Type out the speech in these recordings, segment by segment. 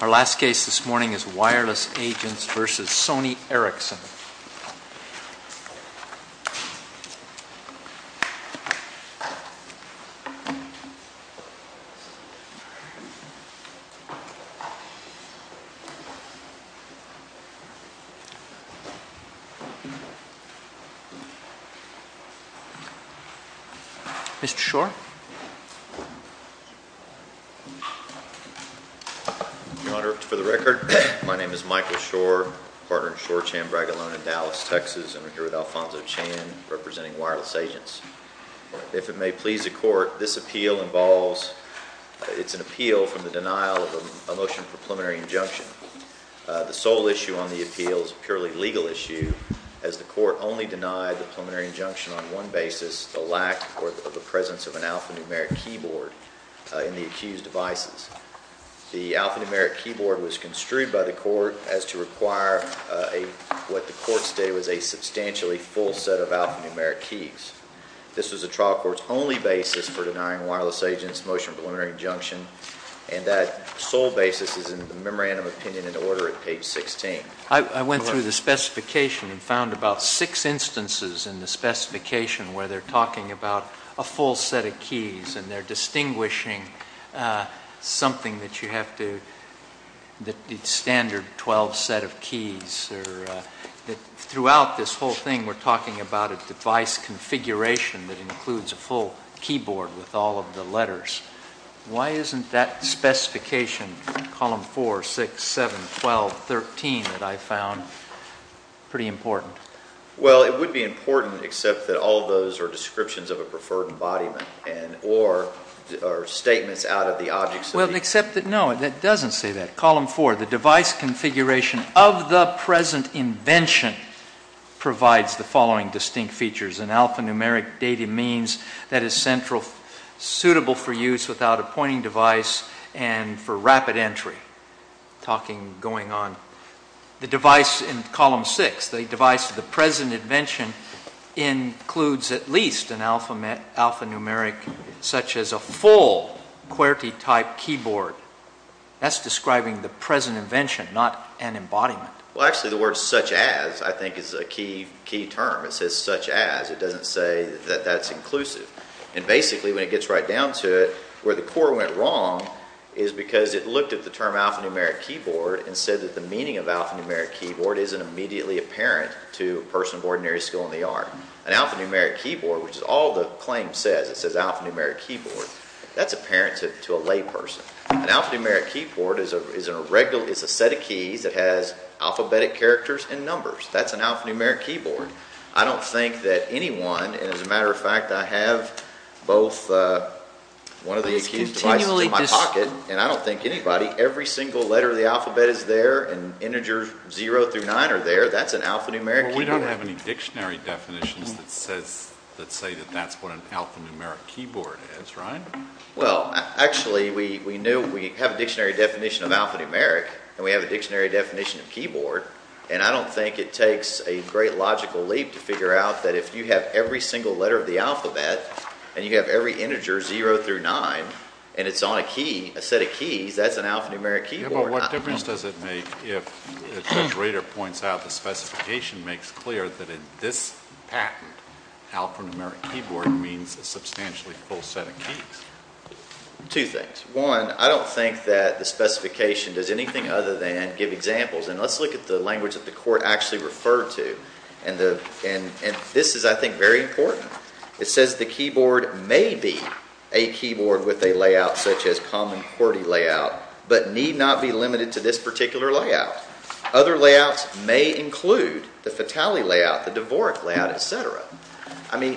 Our last case this morning is Wireless Agents v. Sony Ericsson. Mr. Schor? Your Honor, for the record, my name is Michael Schor, partner in Schor-Chan Bragolone in Dallas, Texas, and I'm here with Alfonso Chan representing Wireless Agents. If it may please the Court, this appeal involves, it's an appeal from the denial of a motion for preliminary injunction. The sole issue on the appeal is a purely legal issue, as the Court only denied the preliminary injunction on one basis, the lack or the presence of an alphanumeric keyboard in the accused's devices. The alphanumeric keyboard was construed by the Court as to require what the Court stated was a substantially full set of alphanumeric keys. This was the trial court's only basis for denying Wireless Agents a motion for preliminary injunction, and that sole basis is in the memorandum of opinion and order at page 16. I went through the specification and found about six instances in the specification where they're talking about a full set of keys, and they're distinguishing something that you have to, the standard 12 set of keys. Throughout this whole thing, we're talking about a device configuration that includes a full keyboard with all of the letters. Why isn't that specification, column 4, 6, 7, 12, 13, that I found pretty important? Well, it would be important, except that all of those are descriptions of a preferred embodiment, or statements out of the objects. Well, except that, no, that doesn't say that. Column 4, the device configuration of the present invention provides the following distinct features. An alphanumeric data means that is central, suitable for use without a pointing device, and for rapid entry, talking, going on. The device in column 6, the device of the present invention includes at least an alphanumeric such as a full QWERTY-type keyboard. That's describing the present invention, not an embodiment. Well, actually, the word such as, I think, is a key term. It says such as. It doesn't say that that's inclusive. And basically, when it gets right down to it, where the core went wrong is because it looked at the term alphanumeric keyboard and said that the meaning of alphanumeric keyboard isn't immediately apparent to a person of ordinary skill in the art. An alphanumeric keyboard, which is all the claim says, it says alphanumeric keyboard, that's apparent to a layperson. An alphanumeric keyboard is a set of keys that has alphabetic characters and numbers. That's an alphanumeric keyboard. I don't think that anyone, and as a matter of fact, I have both one of the accused devices in my pocket, and I don't think anybody, every single letter of the alphabet is there, and integers 0 through 9 are there. That's an alphanumeric keyboard. We don't have any dictionary definitions that say that that's what an alphanumeric keyboard is, right? Well, actually, we have a dictionary definition of alphanumeric, and we have a dictionary definition of keyboard, and I don't think it takes a great logical leap to figure out that if you have every single letter of the alphabet and you have every integer 0 through 9 and it's on a key, a set of keys, that's an alphanumeric keyboard. Yeah, but what difference does it make if Judge Rader points out the specification makes clear that in this patent, alphanumeric keyboard means a substantially full set of keys? Two things. One, I don't think that the specification does anything other than give examples, and let's look at the language that the court actually referred to, and this is, I think, very important. It says the keyboard may be a keyboard with a layout such as common QWERTY layout, but need not be limited to this particular layout. Other layouts may include the Fatali layout, the Dvorak layout, et cetera. I mean,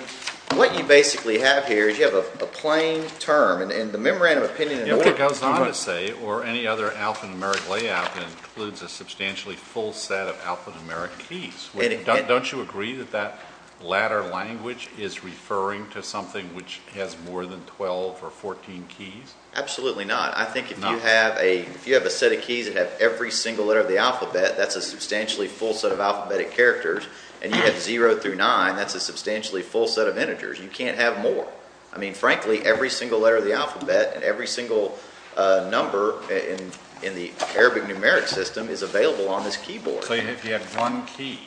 what you basically have here is you have a plain term, and the memorandum opinion in the court or any other alphanumeric layout includes a substantially full set of alphanumeric keys. Don't you agree that that latter language is referring to something which has more than 12 or 14 keys? Absolutely not. I think if you have a set of keys that have every single letter of the alphabet, that's a substantially full set of alphabetic characters, and you have 0 through 9, that's a substantially full set of integers. You can't have more. I mean, frankly, every single letter of the alphabet and every single number in the Arabic numeric system is available on this keyboard. So if you have one key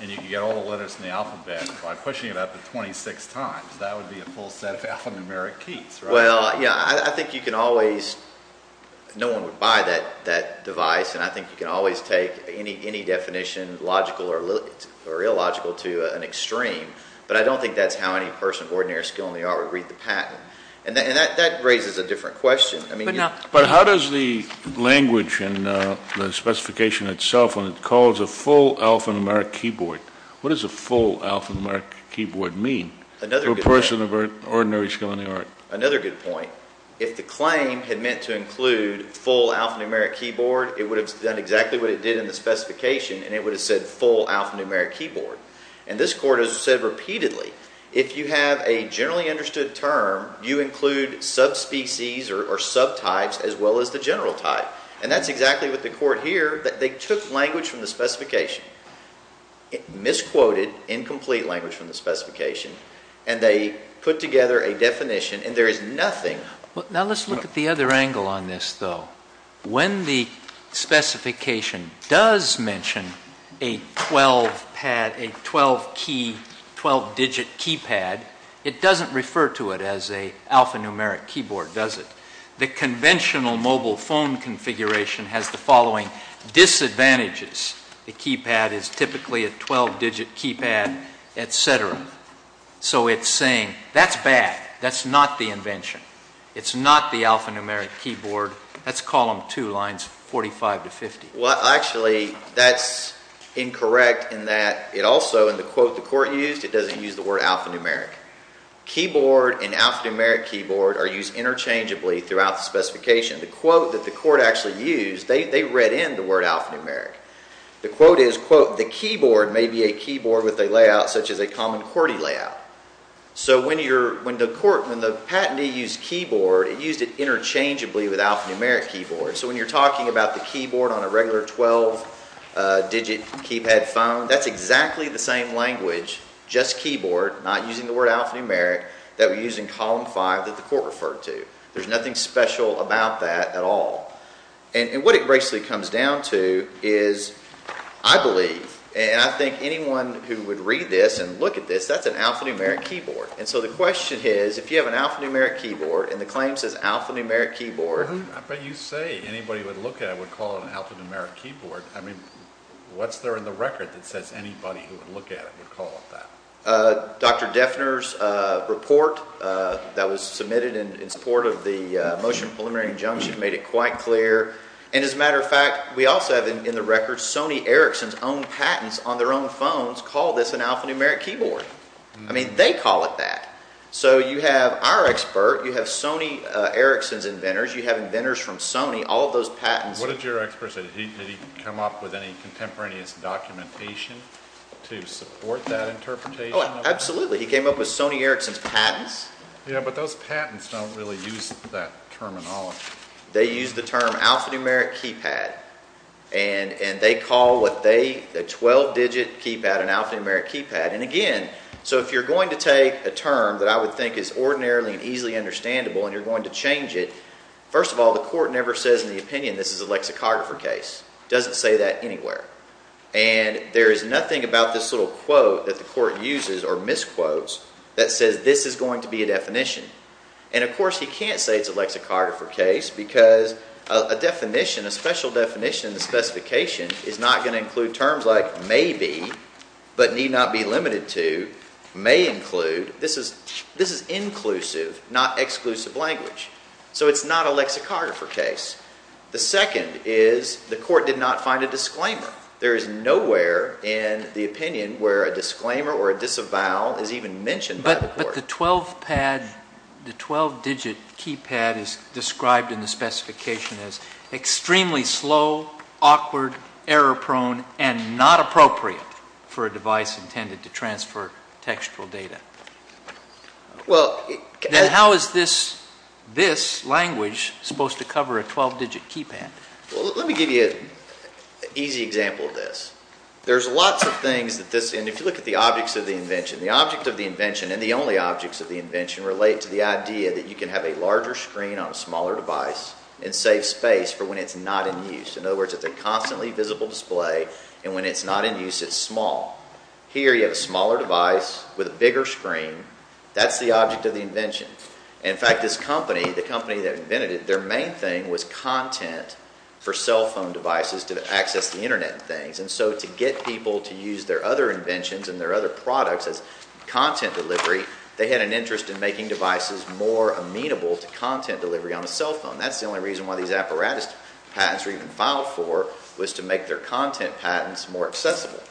and you can get all the letters in the alphabet by pushing it up to 26 times, that would be a full set of alphanumeric keys, right? Well, yeah, I think you can always, no one would buy that device, and I think you can always take any definition, logical or illogical, to an extreme, but I don't think that's how any person of ordinary skill in the art would read the patent. And that raises a different question. But how does the language and the specification itself, when it calls a full alphanumeric keyboard, what does a full alphanumeric keyboard mean for a person of ordinary skill in the art? Another good point. If the claim had meant to include full alphanumeric keyboard, it would have done exactly what it did in the specification, and it would have said full alphanumeric keyboard. And this court has said repeatedly, if you have a generally understood term, you include subspecies or subtypes as well as the general type. And that's exactly what the court here, that they took language from the specification, misquoted incomplete language from the specification, and they put together a definition, and there is nothing. Now let's look at the other angle on this, though. When the specification does mention a 12-pad, a 12-key, 12-digit keypad, it doesn't refer to it as a alphanumeric keyboard, does it? The conventional mobile phone configuration has the following disadvantages. A keypad is typically a 12-digit keypad, et cetera. So it's saying, that's bad. That's not the invention. It's not the alphanumeric keyboard. That's column 2, lines 45 to 50. Well, actually, that's incorrect in that it also, in the quote the court used, it doesn't use the word alphanumeric. Keyboard and alphanumeric keyboard are used interchangeably throughout the specification. The quote that the court actually used, they read in the word alphanumeric. The quote is, quote, the keyboard may be a keyboard with a layout such as a common QWERTY layout. So when the court, when the patentee used keyboard, it used it interchangeably with alphanumeric keyboard. So when you're talking about the keyboard on a regular 12-digit keypad phone, that's exactly the same language, just keyboard, not using the word alphanumeric, that we use in column 5 that the court referred to. There's nothing special about that at all. And what it basically comes down to is, I believe, and I think anyone who would read this and look at this, that's an alphanumeric keyboard. And so the question is, if you have an alphanumeric keyboard and the claim says alphanumeric keyboard. I bet you say anybody who would look at it would call it an alphanumeric keyboard. I mean, what's there in the record that says anybody who would look at it would call it that? Dr. Deffner's report that was submitted in support of the motion of preliminary injunction made it quite clear. And as a matter of fact, we also have in the record, Sony Ericsson's own patents on their own phones call this an alphanumeric keyboard. I mean, they call it that. So you have our expert, you have Sony Ericsson's inventors, you have inventors from Sony, all of those patents. What did your expert say? Did he come up with any contemporaneous documentation to support that interpretation? Oh, absolutely. He came up with Sony Ericsson's patents. Yeah, but those patents don't really use that terminology. They use the term alphanumeric keypad, and they call what they, the 12-digit keypad an alphanumeric keypad. And again, so if you're going to take a term that I would think is ordinarily and easily understandable and you're going to change it, first of all, the court never says in the opinion this is a lexicographer case. It doesn't say that anywhere. And there is nothing about this little quote that the court uses or misquotes that says this is going to be a definition. And, of course, he can't say it's a lexicographer case because a definition, a special definition, a specification is not going to include terms like maybe, but need not be limited to, may include. This is inclusive, not exclusive language. So it's not a lexicographer case. The second is the court did not find a disclaimer. There is nowhere in the opinion where a disclaimer or a disavowal is even mentioned by the court. But the 12-digit keypad is described in the specification as extremely slow, awkward, error-prone, and not appropriate for a device intended to transfer textual data. Then how is this language supposed to cover a 12-digit keypad? Well, let me give you an easy example of this. There's lots of things that this, and if you look at the objects of the invention, the object of the invention and the only objects of the invention relate to the idea that you can have a larger screen on a smaller device and save space for when it's not in use. In other words, it's a constantly visible display, and when it's not in use, it's small. Here you have a smaller device with a bigger screen. That's the object of the invention. In fact, this company, the company that invented it, and so to get people to use their other inventions and their other products as content delivery, they had an interest in making devices more amenable to content delivery on the cell phone. That's the only reason why these apparatus patents were even filed for, was to make their content patents more accessible.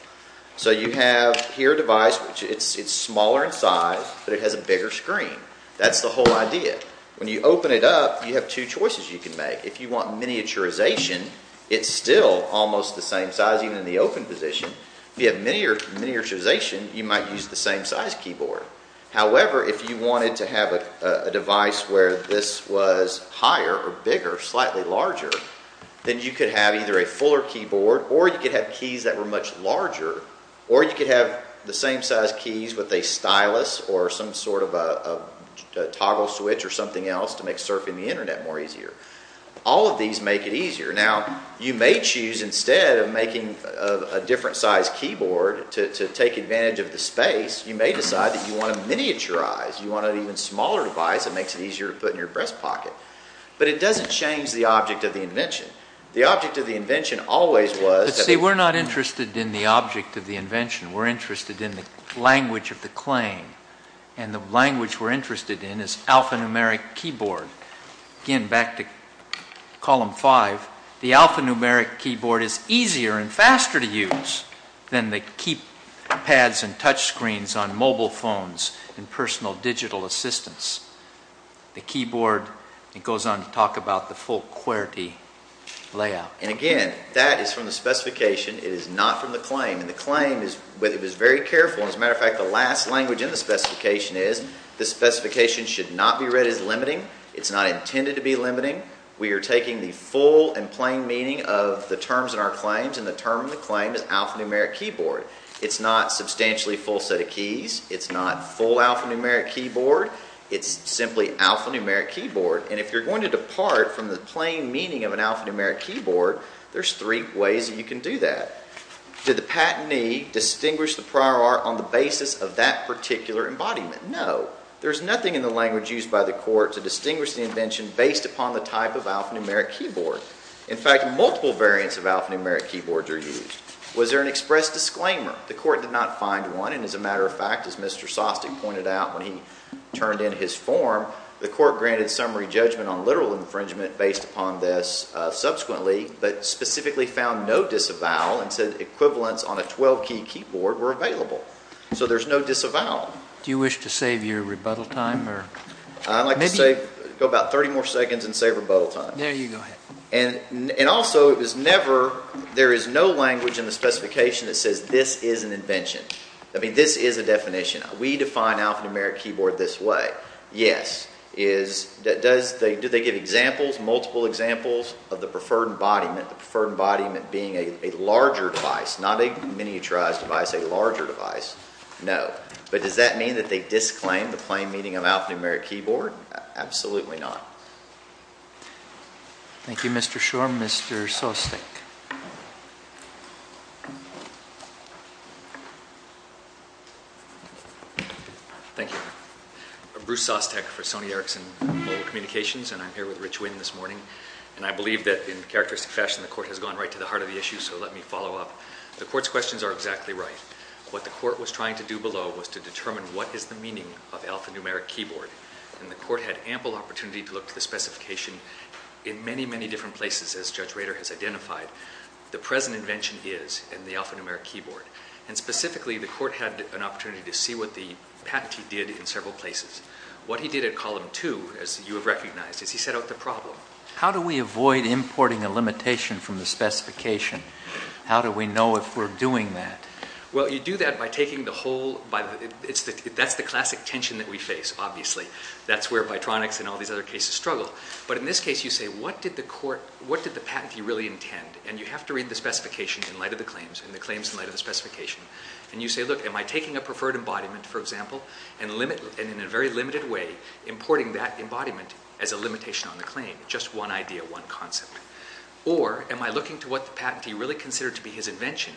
So you have here a device, it's smaller in size, but it has a bigger screen. That's the whole idea. When you open it up, you have two choices you can make. If you want miniaturization, it's still almost the same size, even in the open position. If you have miniaturization, you might use the same size keyboard. However, if you wanted to have a device where this was higher or bigger, slightly larger, then you could have either a fuller keyboard, or you could have keys that were much larger, or you could have the same size keys with a stylus or some sort of a toggle switch or something else to make surfing the internet more easier. All of these make it easier. Now, you may choose, instead of making a different size keyboard to take advantage of the space, you may decide that you want to miniaturize. You want an even smaller device that makes it easier to put in your breast pocket. But it doesn't change the object of the invention. The object of the invention always was... But see, we're not interested in the object of the invention. We're interested in the language of the claim. And the language we're interested in is alphanumeric keyboard. Again, back to Column 5. The alphanumeric keyboard is easier and faster to use than the keypads and touchscreens on mobile phones and personal digital assistants. The keyboard, it goes on to talk about the full QWERTY layout. And again, that is from the specification. It is not from the claim. It was very careful. As a matter of fact, the last language in the specification is the specification should not be read as limiting. It's not intended to be limiting. We are taking the full and plain meaning of the terms in our claims and the term in the claim is alphanumeric keyboard. It's not substantially full set of keys. It's not full alphanumeric keyboard. It's simply alphanumeric keyboard. And if you're going to depart from the plain meaning of an alphanumeric keyboard, there's three ways that you can do that. Did the patentee distinguish the prior art on the basis of that particular embodiment? No. There's nothing in the language used by the court to distinguish the invention based upon the type of alphanumeric keyboard. In fact, multiple variants of alphanumeric keyboards are used. Was there an express disclaimer? The court did not find one, and as a matter of fact, as Mr. Sostek pointed out when he turned in his form, the court granted summary judgment on literal infringement based upon this subsequently, but specifically found no disavowal and said equivalents on a 12-key keyboard were available. So there's no disavowal. Do you wish to save your rebuttal time? I'd like to go about 30 more seconds and save rebuttal time. There you go. And also, there is no language in the specification that says this is an invention. I mean, this is a definition. We define alphanumeric keyboard this way. Yes. Do they give examples, multiple examples of the preferred embodiment, the preferred embodiment being a larger device, not a miniaturized device, a larger device? No. But does that mean that they disclaim the plain meaning of alphanumeric keyboard? Absolutely not. Thank you, Mr. Schor. Mr. Sostek. Thank you. Bruce Sostek for Sony Ericsson Mobile Communications, and I'm here with Rich Winn this morning. And I believe that in characteristic fashion the court has gone right to the heart of the issue, so let me follow up. The court's questions are exactly right. What the court was trying to do below was to determine what is the meaning of alphanumeric keyboard. And the court had ample opportunity to look at the specification in many, many different places, as Judge Rader has identified. The present invention is in the alphanumeric keyboard. And specifically, the court had an opportunity to see what the patentee did in several places. What he did in column two, as you have recognized, is he set out the problem. How do we avoid importing a limitation from the specification? How do we know if we're doing that? Well, you do that by taking the whole by the, that's the classic tension that we face, obviously. That's where Vitronics and all these other cases struggle. But in this case, you say, what did the court, what did the patentee really intend? And you have to read the specification in light of the claims and the claims in light of the specification. And you say, look, am I taking a preferred embodiment, for example, and in a very limited way, importing that embodiment as a limitation on the claim? Just one idea, one concept. Or am I looking to what the patentee really considered to be his invention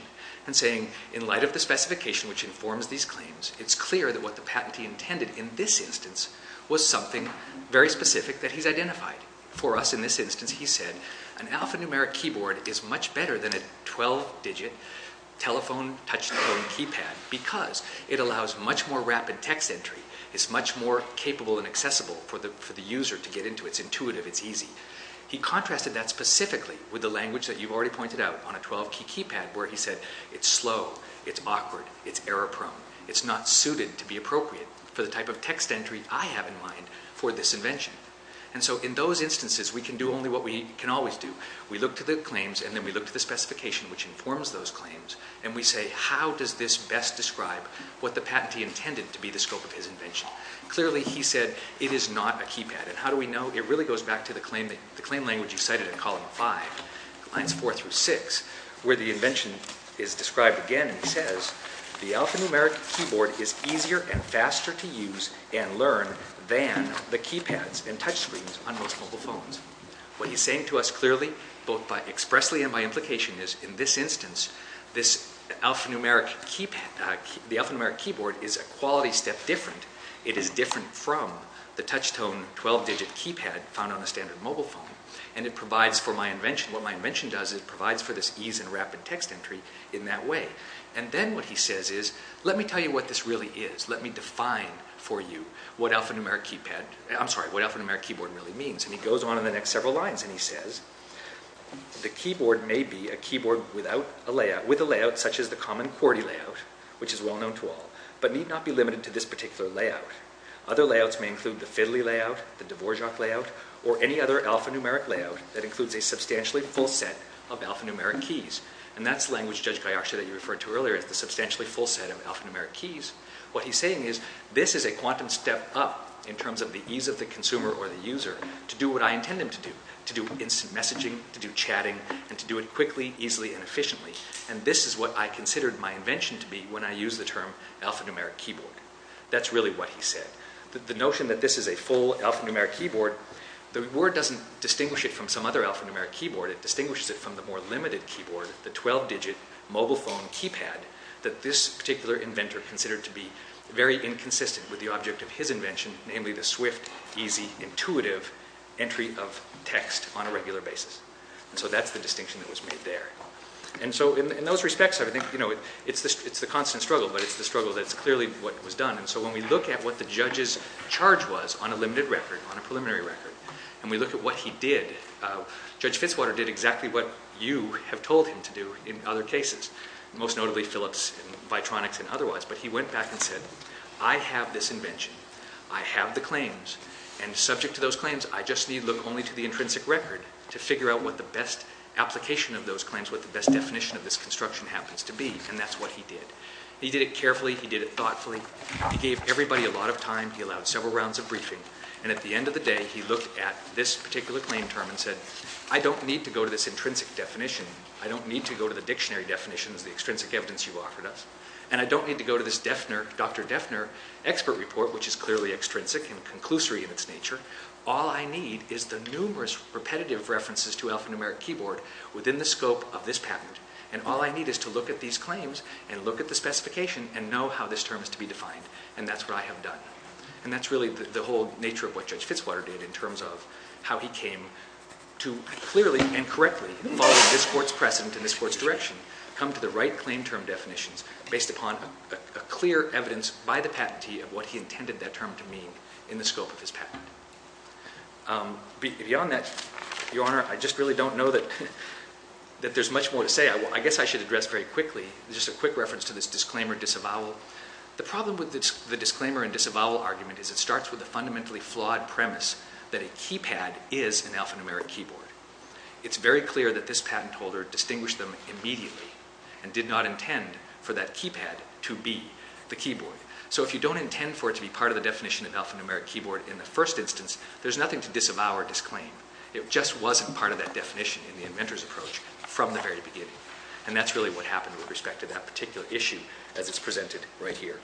and saying, in light of the specification which informs these claims, it's clear that what the patentee intended in this instance was something very specific that he's identified. For us in this instance, he said, an alphanumeric keyboard is much better than a 12-digit telephone touch-tone keypad because it allows much more rapid text entry. It's much more capable and accessible for the user to get into. It's intuitive. It's easy. He contrasted that specifically with the language that you've already pointed out on a 12-key keypad where he said, it's slow, it's awkward, it's error-prone. It's not suited to be appropriate for the type of text entry I have in mind for this invention. And so in those instances, we can do only what we can always do. We look to the claims and then we look to the specification which informs those claims and we say, how does this best describe what the patentee intended to be the scope of his invention? Clearly, he said, it is not a keypad. And how do we know? It really goes back to the claim language you cited in column 5, lines 4 through 6, where the invention is described again and he says, the alphanumeric keyboard is easier and faster to use and learn than the keypads and touchscreens on most mobile phones. What he's saying to us clearly, both expressly and by implication is, in this instance, the alphanumeric keyboard is a quality step different. It is different from the touch-tone 12-digit keypad found on a standard mobile phone. And it provides for my invention. What my invention does is it provides for this ease and rapid text entry in that way. And then what he says is, let me tell you what this really is. Let me define for you what alphanumeric keyboard really means. And he goes on in the next several lines and he says, the keyboard may be a keyboard with a layout such as the common QWERTY layout, which is well known to all, but need not be limited to this particular layout. Other layouts may include the Fiddley layout, the Dvorak layout, or any other alphanumeric layout that includes a substantially full set of alphanumeric keys. And that's the language, Judge Gayashe, that you referred to earlier, is the substantially full set of alphanumeric keys. What he's saying is, this is a quantum step up in terms of the ease of the consumer or the user to do what I intend them to do, to do instant messaging, to do chatting, and to do it quickly, easily, and efficiently. And this is what I considered my invention to be when I used the term alphanumeric keyboard. That's really what he said. The notion that this is a full alphanumeric keyboard, the word doesn't distinguish it from some other alphanumeric keyboard. It distinguishes it from the more limited keyboard, the 12-digit mobile phone keypad, that this particular inventor considered to be very inconsistent with the object of his invention, namely the swift, easy, intuitive entry of text on a regular basis. And so that's the distinction that was made there. And so in those respects, I think, you know, it's the constant struggle, but it's the struggle that's clearly what was done. And so when we look at what the judge's charge was on a limited record, on a preliminary record, and we look at what he did, Judge Fitzwater did exactly what you have told him to do in other cases, most notably Phillips and Vitronics and otherwise, but he went back and said, I have this invention, I have the claims, and subject to those claims, I just need to look only to the intrinsic record to figure out what the best application of those claims, what the best definition of this construction happens to be, and that's what he did. He did it carefully. He did it thoughtfully. He gave everybody a lot of time. He allowed several rounds of briefing. And at the end of the day, he looked at this particular claim term and said, I don't need to go to this intrinsic definition. I don't need to go to the dictionary definitions, the extrinsic evidence you offered us. And I don't need to go to this Defner, Dr. Defner expert report, which is clearly extrinsic and conclusory in its nature. All I need is the numerous repetitive references to alphanumeric keyboard within the scope of this patent. And all I need is to look at these claims and look at the specification and know how this term is to be defined. And that's what I have done. And that's really the whole nature of what Judge Fitzwater did in terms of how he came to clearly and correctly follow this court's precedent and this court's direction, come to the right claim term definitions based upon a clear evidence by the patentee of what he intended that term to mean in the scope of his patent. Beyond that, Your Honor, I just really don't know that there's much more to say. I guess I should address very quickly just a quick reference to this disclaimer disavowal. The problem with the disclaimer and disavowal argument is it starts with a fundamentally flawed premise that a keypad is an alphanumeric keyboard. It's very clear that this patent holder distinguished them immediately and did not intend for that keypad to be the keyboard. So if you don't intend for it to be part of the definition of alphanumeric keyboard in the first instance, there's nothing to disavow or disclaim. It just wasn't part of that definition in the inventor's approach from the very beginning. And that's really what happened with respect to that particular issue as it's presented right here.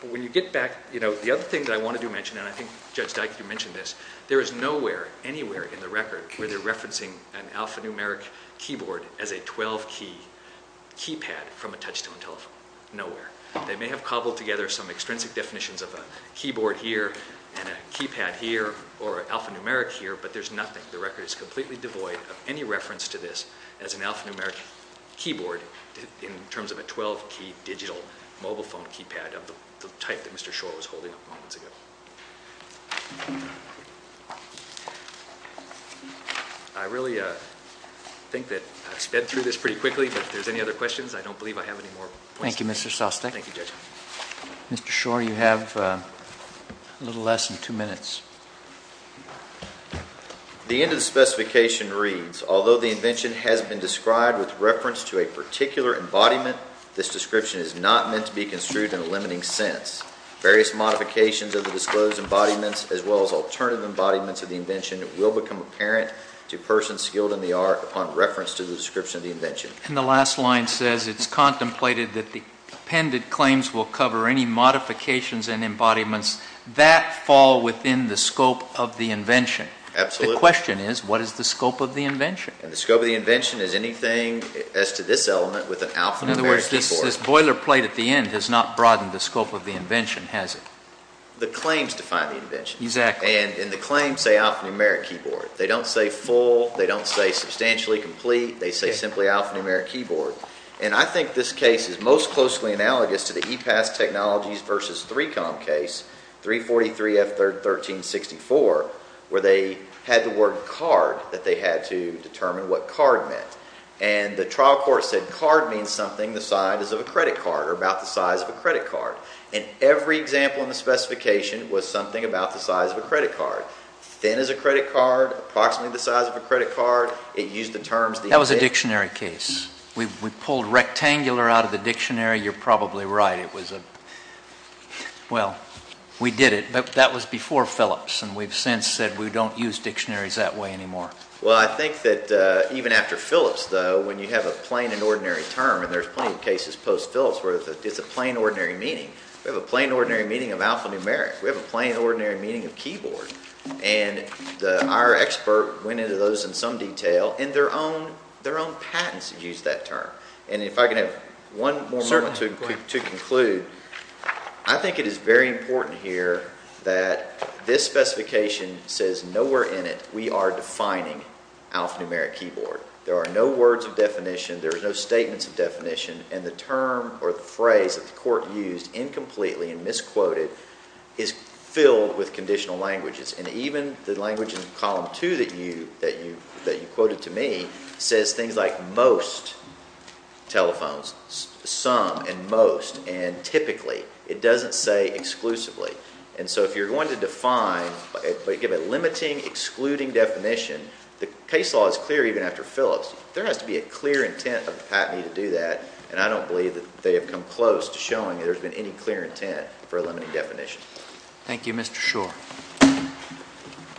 But when you get back, you know, the other thing that I wanted to mention, and I think Judge Dikey mentioned this, there is nowhere anywhere in the record where they're referencing an alphanumeric keyboard as a 12-key keypad from a touch-tone telephone. Nowhere. They may have cobbled together some extrinsic definitions of a keyboard here and a keypad here or alphanumeric here, but there's nothing. The record is completely devoid of any reference to this as an alphanumeric keyboard in terms of a 12-key digital mobile phone keypad of the type that Mr. Schor was holding up moments ago. I really think that I've sped through this pretty quickly, but if there's any other questions, I don't believe I have any more questions. Thank you, Mr. Sostek. Thank you, Judge. Mr. Schor, you have a little less than two minutes. The end of the specification reads, although the invention has been described with reference to a particular embodiment, this description is not meant to be construed in a limiting sense. Various modifications of the disclosed embodiments as well as alternative embodiments of the invention will become apparent to persons skilled in the art upon reference to the description of the invention. And the last line says, it's contemplated that the appended claims will cover any modifications and embodiments that fall within the scope of the invention. Absolutely. The question is, what is the scope of the invention? The scope of the invention is anything as to this element with an alphanumeric keyboard. In other words, this boilerplate at the end has not broadened the scope of the invention, has it? The claims define the invention. Exactly. And the claims say alphanumeric keyboard. They don't say full. They don't say substantially complete. They say simply alphanumeric keyboard. And I think this case is most closely analogous to the EPAS Technologies versus 3Com case, 343F1364, where they had the word card that they had to determine what card meant. And the trial court said card means something the size of a credit card or about the size of a credit card. And every example in the specification was something about the size of a credit card. Thin is a credit card, approximately the size of a credit card. It used the terms. That was a dictionary case. We pulled rectangular out of the dictionary. You're probably right. It was a, well, we did it. But that was before Phillips. And we've since said we don't use dictionaries that way anymore. Well, I think that even after Phillips, though, when you have a plain and ordinary term, and there's plenty of cases post Phillips where it's a plain ordinary meaning. We have a plain ordinary meaning of alphanumeric. We have a plain ordinary meaning of keyboard. And our expert went into those in some detail. And their own patents used that term. And if I can have one more moment to conclude, I think it is very important here that this specification says nowhere in it we are defining alphanumeric keyboard. There are no words of definition. There are no statements of definition. And the term or the phrase that the court used incompletely and misquoted is filled with conditional languages. And even the language in Column 2 that you quoted to me says things like most telephones, some and most, and typically. It doesn't say exclusively. And so if you're going to define, give a limiting, excluding definition, the case law is clear even after Phillips. There has to be a clear intent of the patentee to do that. And I don't believe that they have come close to showing that there's been any clear intent for a limiting definition. Thank you, Mr. Schor.